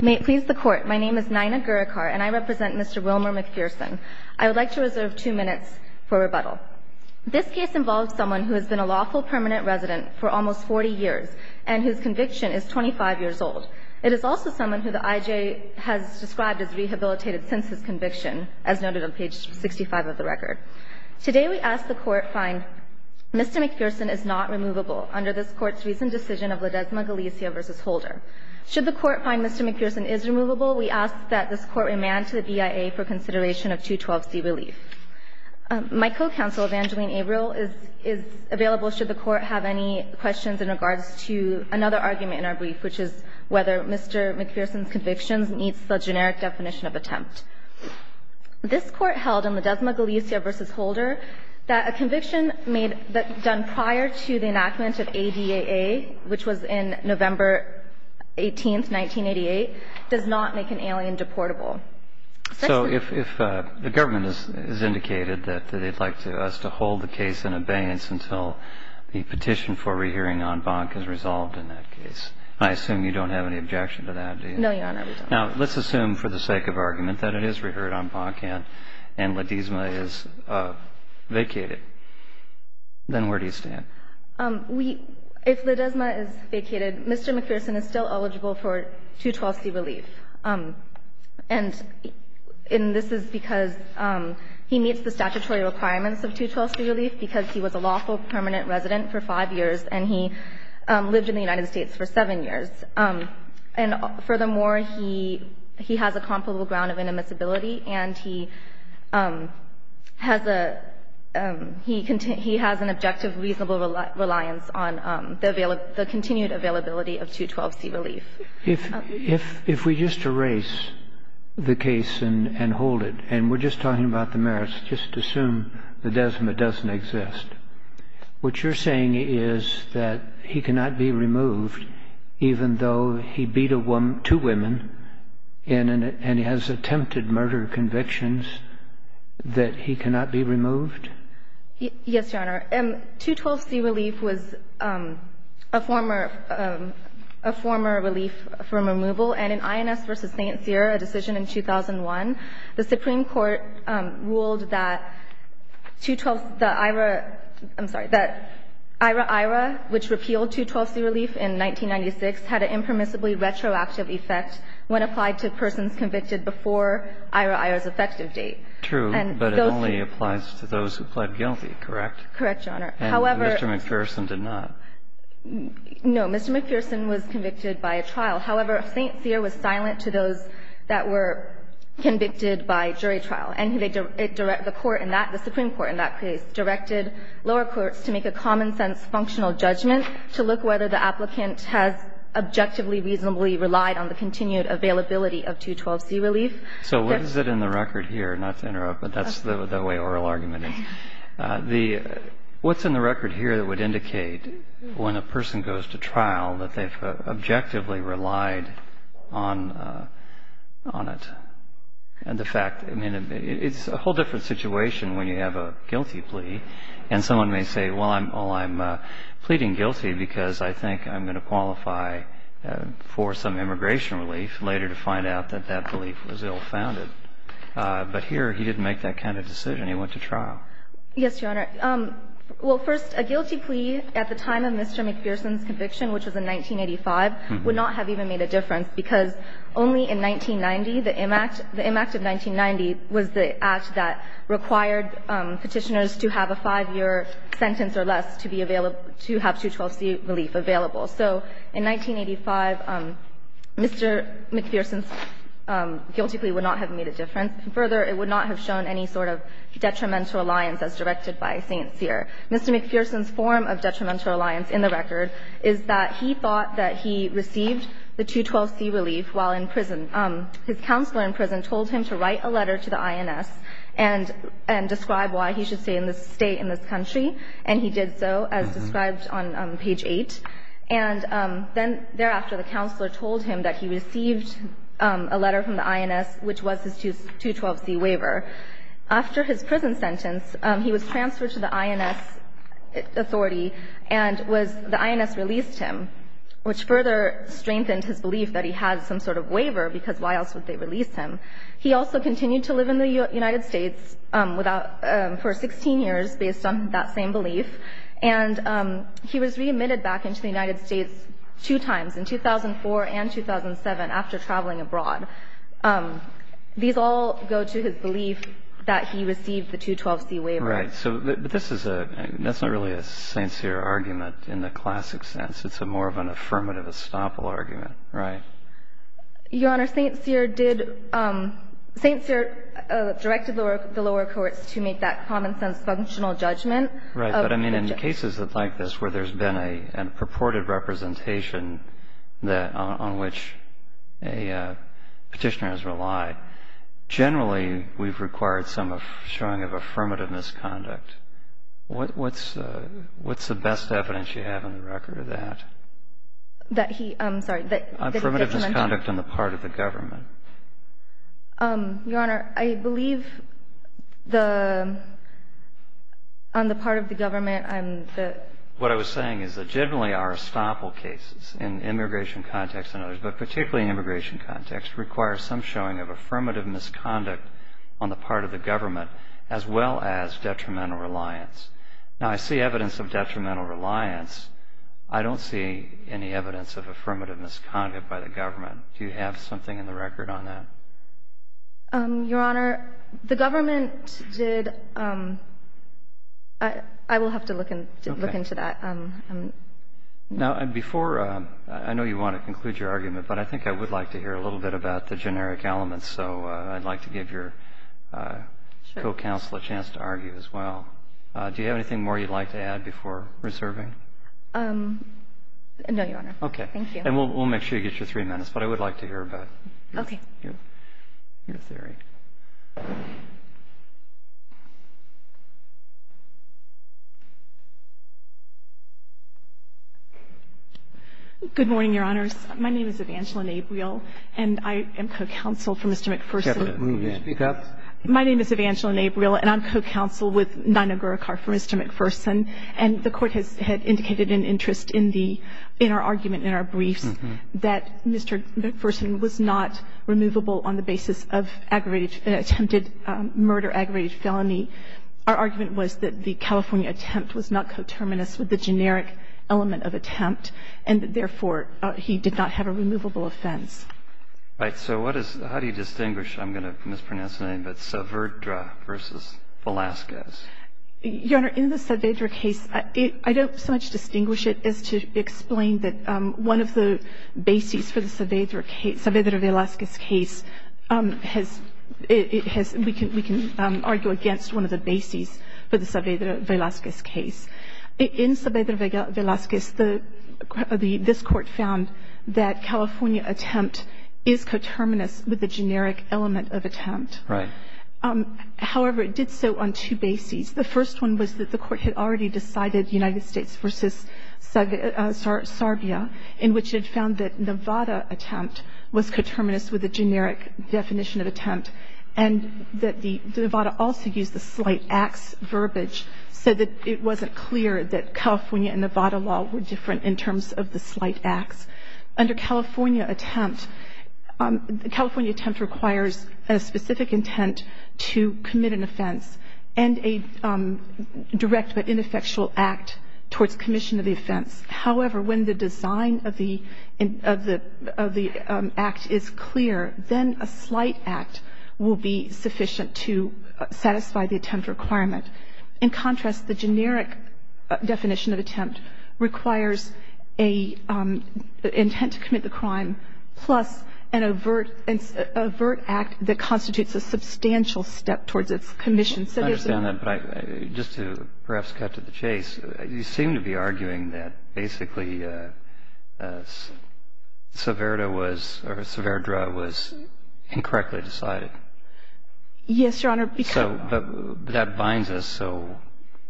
May it please the Court, my name is Naina Gurikar and I represent Mr. Wilmour McPherson. I would like to reserve two minutes for rebuttal. This case involves someone who has been a lawful permanent resident for almost 40 years and whose conviction is 25 years old. It is also someone who the IJA has described as rehabilitated since his conviction, as noted on page 65 of the record. Today we ask the Court find Mr. McPherson is not removable under this Court's recent decision of Ledesma Galicia v. Holder. Should the Court find Mr. McPherson is removable, we ask that this Court remand to the BIA for consideration of 212C relief. My co-counsel, Evangeline Averill, is available should the Court have any questions in regards to another argument in our brief, which is whether Mr. McPherson's convictions meets the generic definition of attempt. This Court held in Ledesma Galicia v. Holder that a conviction made done prior to the enactment of ADAA, which was in November 18th, 1988, does not make an alien deportable. So if the government has indicated that they'd like us to hold the case in abeyance until the petition for rehearing en banc is resolved in that case, I assume you don't have any objection to that, do you? No, Your Honor, we don't. Now, let's assume for the sake of argument that it is reheard en banc and Ledesma is vacated. Then where do you stand? If Ledesma is vacated, Mr. McPherson is still eligible for 212C relief. And this is because he meets the statutory requirements of 212C relief because he was a lawful permanent resident for 5 years and he lived in the United States for 7 years. And furthermore, he has a comparable ground of inadmissibility and he has an objective, reasonable reliance on the continued availability of 212C relief. If we just erase the case and hold it, and we're just talking about the merits, just assume Ledesma doesn't exist, what you're saying is that he cannot be removed even though he beat two women and he has attempted murder convictions, that he cannot be removed? Yes, Your Honor. 212C relief was a former relief from removal. And in INS v. St. Cyr, a decision in 2001, the Supreme Court ruled that 212C, I'm sorry, that IHRA-IHRA, which repealed 212C relief in 1996, had an impermissibly retroactive effect when applied to persons convicted before IHRA-IHRA's effective date. True, but it only applies to those who pled guilty, correct? Correct, Your Honor. However, Mr. McPherson did not. No. Mr. McPherson was convicted by a trial. However, St. Cyr was silent to those that were convicted by jury trial. The Supreme Court in that case directed lower courts to make a common-sense functional judgment to look whether the applicant has objectively, reasonably relied on the continued availability of 212C relief. So what is it in the record here, not to interrupt, but that's the way oral argument is, what's in the record here that would indicate when a person goes to trial that they've objectively relied on it? And the fact, I mean, it's a whole different situation when you have a guilty plea and someone may say, well, I'm pleading guilty because I think I'm going to qualify for some immigration relief later to find out that that belief was ill-founded. But here he didn't make that kind of decision. He went to trial. Yes, Your Honor. Well, first, a guilty plea at the time of Mr. McPherson's conviction, which was in 1990 was the act that required Petitioners to have a 5-year sentence or less to be available, to have 212C relief available. So in 1985, Mr. McPherson's guilty plea would not have made a difference. Further, it would not have shown any sort of detrimental alliance as directed by St. Cyr. Mr. McPherson's form of detrimental alliance in the record is that he thought that he received the 212C relief while in prison. His counselor in prison told him to write a letter to the INS and describe why he should stay in this country. And he did so, as described on page 8. And then thereafter, the counselor told him that he received a letter from the INS, which was his 212C waiver. After his prison sentence, he was transferred to the INS authority and the INS released him, which further strengthened his belief that he had some sort of waiver, because why else would they release him? He also continued to live in the United States without – for 16 years based on that same belief. And he was readmitted back into the United States two times, in 2004 and 2007, after traveling abroad. These all go to his belief that he received the 212C waiver. Right. So this is a – that's not really a St. Cyr argument in the classic sense. It's more of an affirmative estoppel argument, right? Your Honor, St. Cyr did – St. Cyr directed the lower courts to make that common-sense functional judgment. Right. But, I mean, in cases like this where there's been a purported representation that – on which a Petitioner has relied, generally, we've required some showing of affirmative misconduct. What's the best evidence you have on the record of that? That he – I'm sorry. Affirmative misconduct on the part of the government. Your Honor, I believe the – on the part of the government, I'm – What I was saying is that, generally, our estoppel cases in immigration context and others, but particularly in immigration context, require some showing of affirmative misconduct on the part of the government, as well as detrimental reliance. Now, I see evidence of detrimental reliance. I don't see any evidence of affirmative misconduct by the government. Do you have something in the record on that? Your Honor, the government did – I will have to look into that. Okay. Now, before – I know you want to conclude your argument, but I think I would like to give your co-counsel a chance to argue as well. Do you have anything more you'd like to add before reserving? No, Your Honor. Okay. Thank you. And we'll make sure you get your three minutes. But I would like to hear about your theory. Okay. Good morning, Your Honors. My name is Evangeline Abriel, and I am co-counsel for Mr. McPherson's My name is Evangeline Abriel, and I'm co-counsel with Nino Guricar for Mr. McPherson. And the Court has indicated an interest in the – in our argument, in our briefs, that Mr. McPherson was not removable on the basis of aggravated – attempted murder, aggravated felony. Our argument was that the California attempt was not coterminous with the generic element of attempt, and therefore, he did not have a removable offense. All right. So what is – how do you distinguish – I'm going to mispronounce the name, but Saavedra v. Velazquez? Your Honor, in the Saavedra case, I don't so much distinguish it as to explain that one of the bases for the Saavedra case – Saavedra-Velazquez case has – it has – we can argue against one of the bases for the Saavedra-Velazquez case. In Saavedra-Velazquez, the – this Court found that California attempt is coterminous with the generic element of attempt. Right. However, it did so on two bases. The first one was that the Court had already decided United States v. Serbia, in which it found that Nevada attempt was coterminous with the generic definition of attempt and that the – Nevada also used the slight acts verbiage so that it wasn't clear that California and Nevada law were different in terms of the slight acts. Under California attempt, the California attempt requires a specific intent to commit an offense and a direct but ineffectual act towards commission of the offense. However, when the design of the – of the act is clear, then a slight act will be sufficient to satisfy the attempt requirement. In contrast, the generic definition of attempt requires a intent to commit the crime plus an overt – an overt act that constitutes a substantial step towards its commission. I understand that, but I – just to perhaps cut to the chase, you seem to be arguing that basically Saavedra was – or Saavedra was incorrectly decided. Yes, Your Honor. So that binds us. So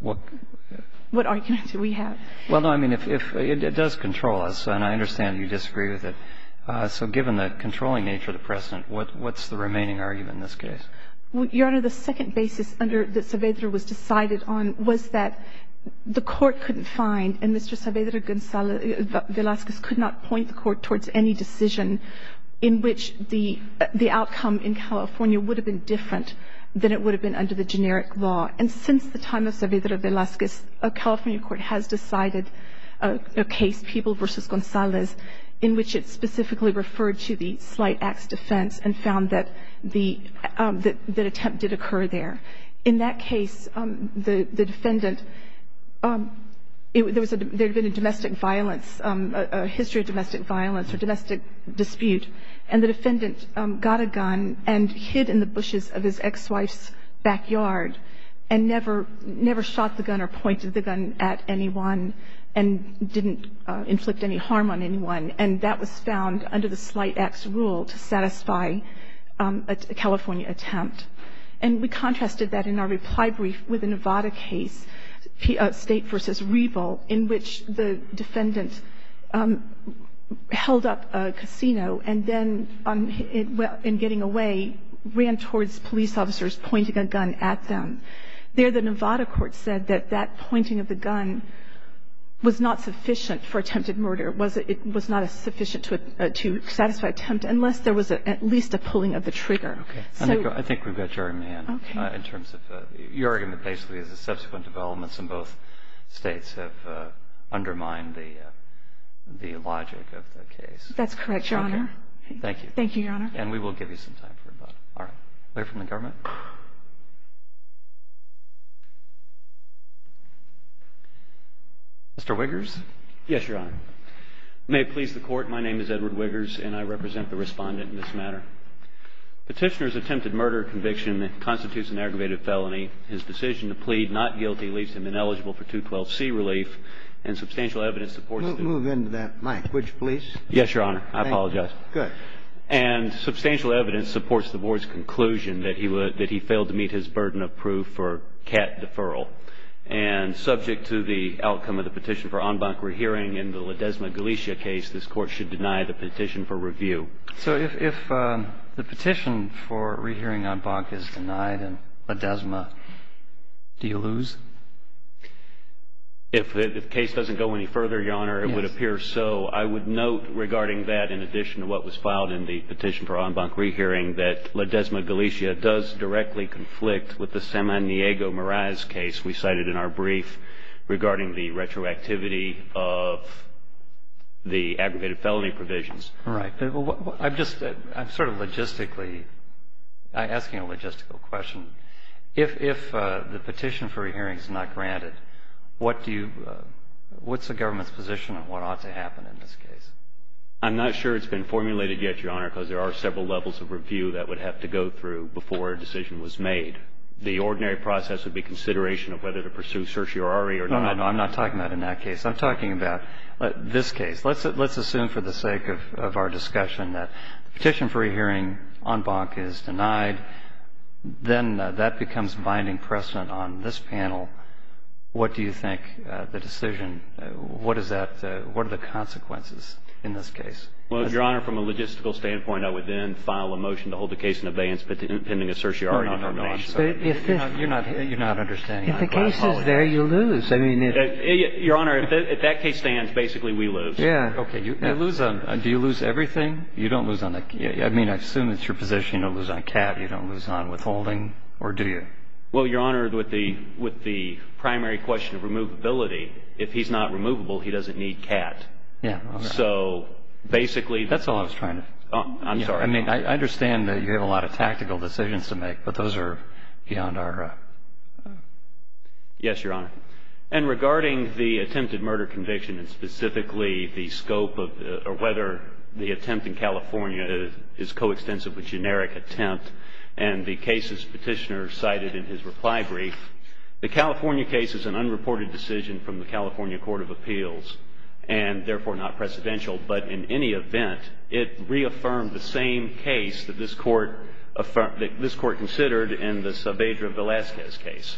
what – What argument do we have? Well, no, I mean, if – it does control us, and I understand you disagree with it. So given the controlling nature of the precedent, what's the remaining argument in this case? Your Honor, the second basis under – that Saavedra was decided on was that the court couldn't find and Mr. Saavedra Velazquez could not point the court towards any decision in which the outcome in California would have been different than it would have been under the generic law. And since the time of Saavedra Velazquez, a California court has decided a case, People v. Gonzalez, in which it specifically referred to the slight acts defense and found that the – that attempt did occur there. In that case, the defendant – there had been a domestic violence – a history of domestic violence or domestic dispute, and the defendant got a gun and hid in the bushes of his ex-wife's backyard and never – never shot the gun or pointed the gun at anyone and didn't inflict any harm on anyone. And that was found under the slight acts rule to satisfy a California attempt. And we contrasted that in our reply brief with the Nevada case, State v. Reval, in which the defendant held up a casino and then, in getting away, ran towards police officers pointing a gun at them. There, the Nevada court said that that pointing of the gun was not sufficient for attempted murder. It was not sufficient to satisfy attempt unless there was at least a pulling of the trigger. Okay. So – Let me go. I think we've got Jeremy in. Okay. In terms of – your argument basically is that subsequent developments in both states have undermined the logic of the case. That's correct, Your Honor. Okay. Thank you. Thank you, Your Honor. And we will give you some time for that. All right. A letter from the government? Mr. Wiggers? Yes, Your Honor. May it please the Court, my name is Edward Wiggers, and I represent the Respondent in this matter. Petitioner's attempted murder conviction constitutes an aggravated felony. His decision to plead not guilty leaves him ineligible for 212C relief, and substantial evidence supports – Move into that language, please. Yes, Your Honor. I apologize. Good. And substantial evidence supports the Board's conclusion that he failed to meet his burden of proof for cat deferral. And subject to the outcome of the petition for en banc rehearing in the La Desma Galicia case, this Court should deny the petition for review. So if the petition for rehearing en banc is denied in La Desma, do you lose? If the case doesn't go any further, Your Honor, it would appear so. I would note regarding that, in addition to what was filed in the petition for en banc case, we cited in our brief regarding the retroactivity of the aggravated felony provisions. Right. I'm just – I'm sort of logistically – I'm asking a logistical question. If the petition for rehearing is not granted, what do you – what's the government's position on what ought to happen in this case? I'm not sure it's been formulated yet, Your Honor, because there are several levels of review that would have to go through before a decision was made. The ordinary process would be consideration of whether to pursue certiorari or not. No, no, no. I'm not talking about in that case. I'm talking about this case. Let's assume for the sake of our discussion that the petition for rehearing en banc is denied. Then that becomes binding precedent on this panel. What do you think the decision – what is that – what are the consequences in this case? Well, Your Honor, from a logistical standpoint, I would then file a motion to hold the case in abeyance pending a certiorari determination. But if this – You're not – you're not understanding how to glass-haul it. If the case is there, you lose. I mean, if – Your Honor, if that case stands, basically, we lose. Yeah. Okay. You lose on – do you lose everything? You don't lose on – I mean, I assume it's your position you don't lose on cat. You don't lose on withholding. Or do you? Well, Your Honor, with the – with the primary question of removability, if he's not removable, he doesn't need cat. Yeah. So basically – That's all I was trying to – I'm sorry. I mean, I understand that you have a lot of tactical decisions to make, but those are beyond our – Yes, Your Honor. And regarding the attempted murder conviction and specifically the scope of – or whether the attempt in California is coextensive with generic attempt and the cases Petitioner cited in his reply brief, the California case is an unreported decision from the California Court of Appeals and therefore not precedential. But in any event, it reaffirmed the same case that this Court – that this Court considered in the Saavedra-Velasquez case.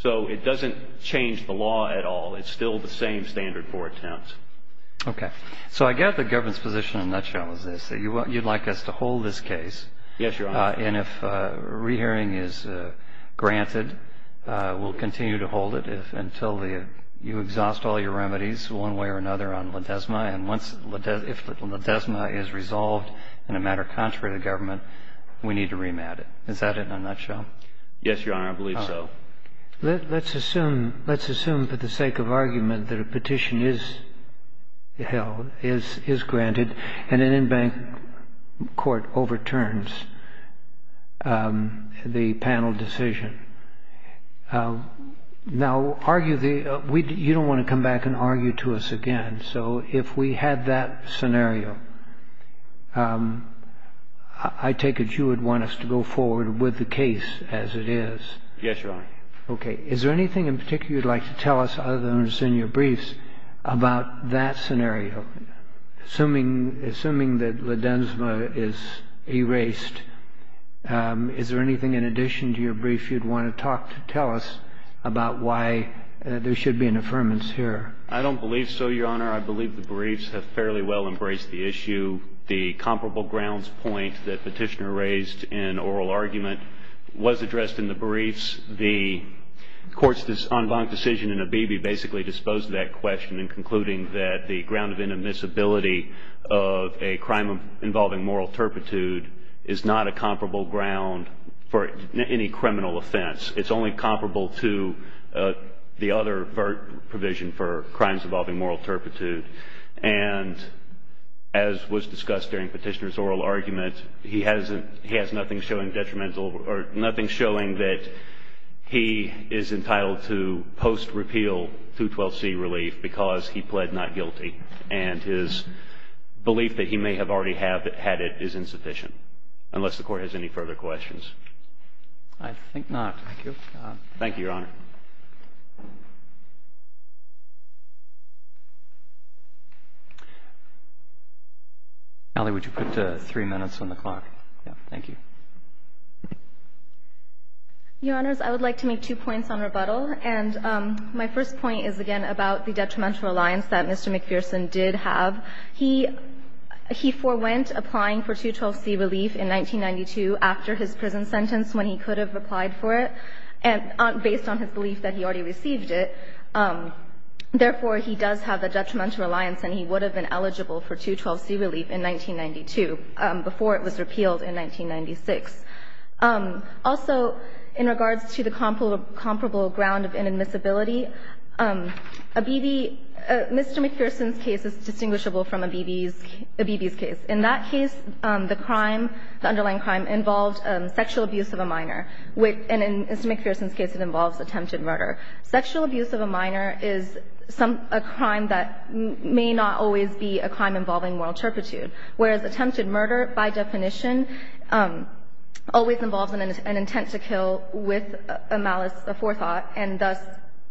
So it doesn't change the law at all. It's still the same standard for attempts. Okay. So I get the government's position in a nutshell, as they say. You'd like us to hold this case. Yes, Your Honor. And if a rehearing is granted, we'll continue to hold it until you exhaust all your remedies one way or another on Ledesma. And if Ledesma is resolved in a matter contrary to government, we need to remand it. Is that it in a nutshell? Yes, Your Honor. I believe so. Let's assume for the sake of argument that a petition is held, is granted, and an in-bank court overturns the panel decision. Now, argue the – you don't want to come back and argue to us again. So if we had that scenario, I take it you would want us to go forward with the case as it is. Yes, Your Honor. Okay. Is there anything in particular you'd like to tell us, other than what's in your briefs, about that scenario? Assuming that Ledesma is erased, is there anything in addition to your brief you'd want to talk to tell us about why there should be an affirmance here? I don't believe so, Your Honor. I believe the briefs have fairly well embraced the issue. The comparable grounds point that Petitioner raised in oral argument was addressed in the briefs. The court's unbanked decision in Abebe basically disposed of that question in concluding that the ground of inadmissibility of a crime involving moral turpitude is not a comparable ground for any criminal offense. It's only comparable to the other provision for crimes involving moral turpitude. And as was discussed during Petitioner's oral argument, he has nothing showing detrimental or nothing showing that he is entitled to post-repeal 212C relief because he pled not guilty. And his belief that he may have already had it is insufficient, unless the Court has any further questions. I think not. Thank you. Thank you, Your Honor. Allie, would you put three minutes on the clock? Thank you. Your Honors, I would like to make two points on rebuttal. And my first point is, again, about the detrimental alliance that Mr. McPherson did have. He forewent applying for 212C relief in 1992 after his prison sentence when he could have applied for it, and based on his belief that he already received it. Therefore, he does have a detrimental alliance, and he would have been eligible for 212C relief in 1992 before it was repealed in 1996. Also, in regards to the comparable ground of inadmissibility, a BB — Mr. McPherson's case is distinguishable from a BB's case. In that case, the crime, the underlying crime, involved sexual abuse of a minor. And in Mr. McPherson's case, it involves attempted murder. Sexual abuse of a minor is some — a crime that may not always be a crime involving moral turpitude, whereas attempted murder, by definition, always involves an intent to kill with a malice, a forethought, and thus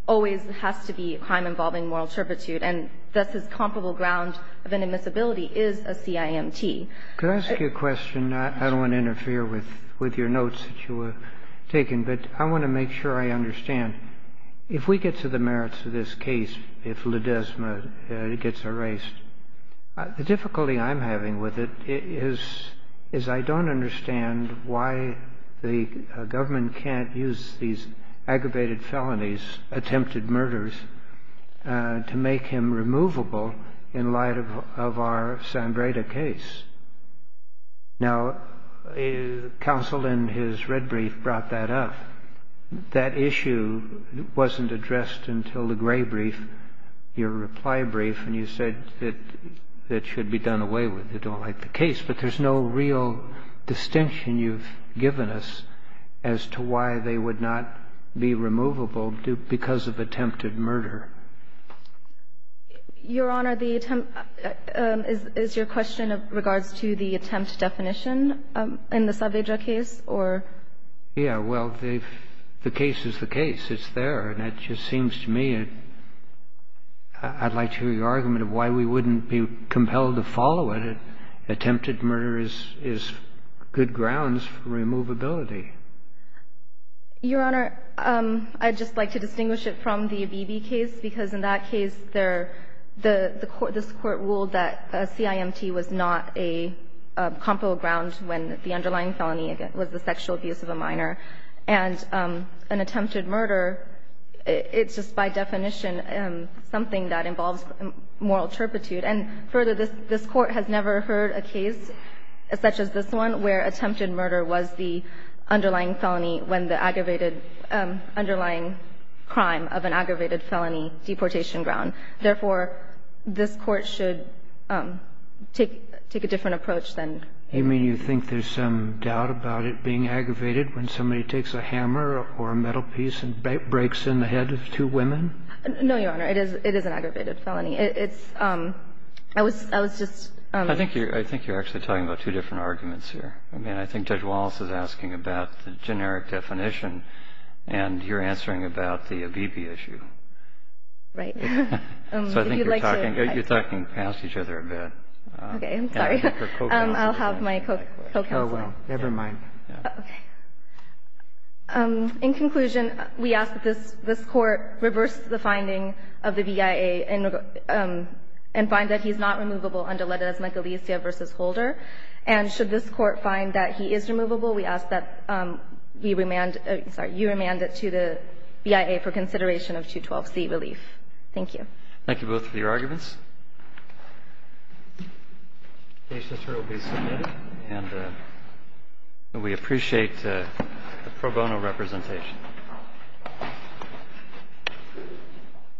always has to be a crime involving moral turpitude, and thus his comparable ground of inadmissibility is a CIMT. Could I ask you a question? I don't want to interfere with your notes that you were taking, but I want to make sure I understand. If we get to the merits of this case, if Ledesma gets erased, the difficulty I'm having with it is I don't understand why the government can't use these aggravated felonies, attempted murders, to make him removable in light of our Sambreda case. Now, counsel in his red brief brought that up. That issue wasn't addressed until the gray brief, your reply brief, and you said that it should be done away with. They don't like the case. But there's no real distinction you've given us as to why they would not be removable because of attempted murder. Your Honor, the attempt – is your question in regards to the attempt definition in the Sambreda case, or? Yeah. Well, the case is the case. It's there. And it just seems to me I'd like to hear your argument of why we wouldn't be compelled to follow it. Attempted murder is good grounds for removability. Your Honor, I'd just like to distinguish it from the Abebe case, because in that case, there – this Court ruled that CIMT was not a comparable ground when the underlying felony was the sexual abuse of a minor. And an attempted murder, it's just by definition something that involves moral turpitude. And further, this Court has never heard a case such as this one where attempted murder was the underlying felony when the aggravated – underlying crime of an aggravated felony deportation ground. Therefore, this Court should take a different approach than – You mean you think there's some doubt about it being aggravated when somebody takes a hammer or a metal piece and breaks in the head of two women? No, Your Honor. It is an aggravated felony. It's – I was just – I think you're – I think you're actually talking about two different arguments here. I mean, I think Judge Wallace is asking about the generic definition, and you're answering about the Abebe issue. Right. So I think you're talking – you're talking past each other a bit. Okay. I'm sorry. I'll have my co-counselor. Oh, well. Never mind. Okay. In conclusion, we ask that this Court reverse the finding of the VIA and find that he's not removable under Ledezma-Galicia v. Holder. And should this Court find that he is removable, we ask that we remand – sorry, you remand it to the VIA for consideration of 212c, Relief. Thank you. Thank you both for your arguments. The case letter will be submitted. And we appreciate the pro bono representation.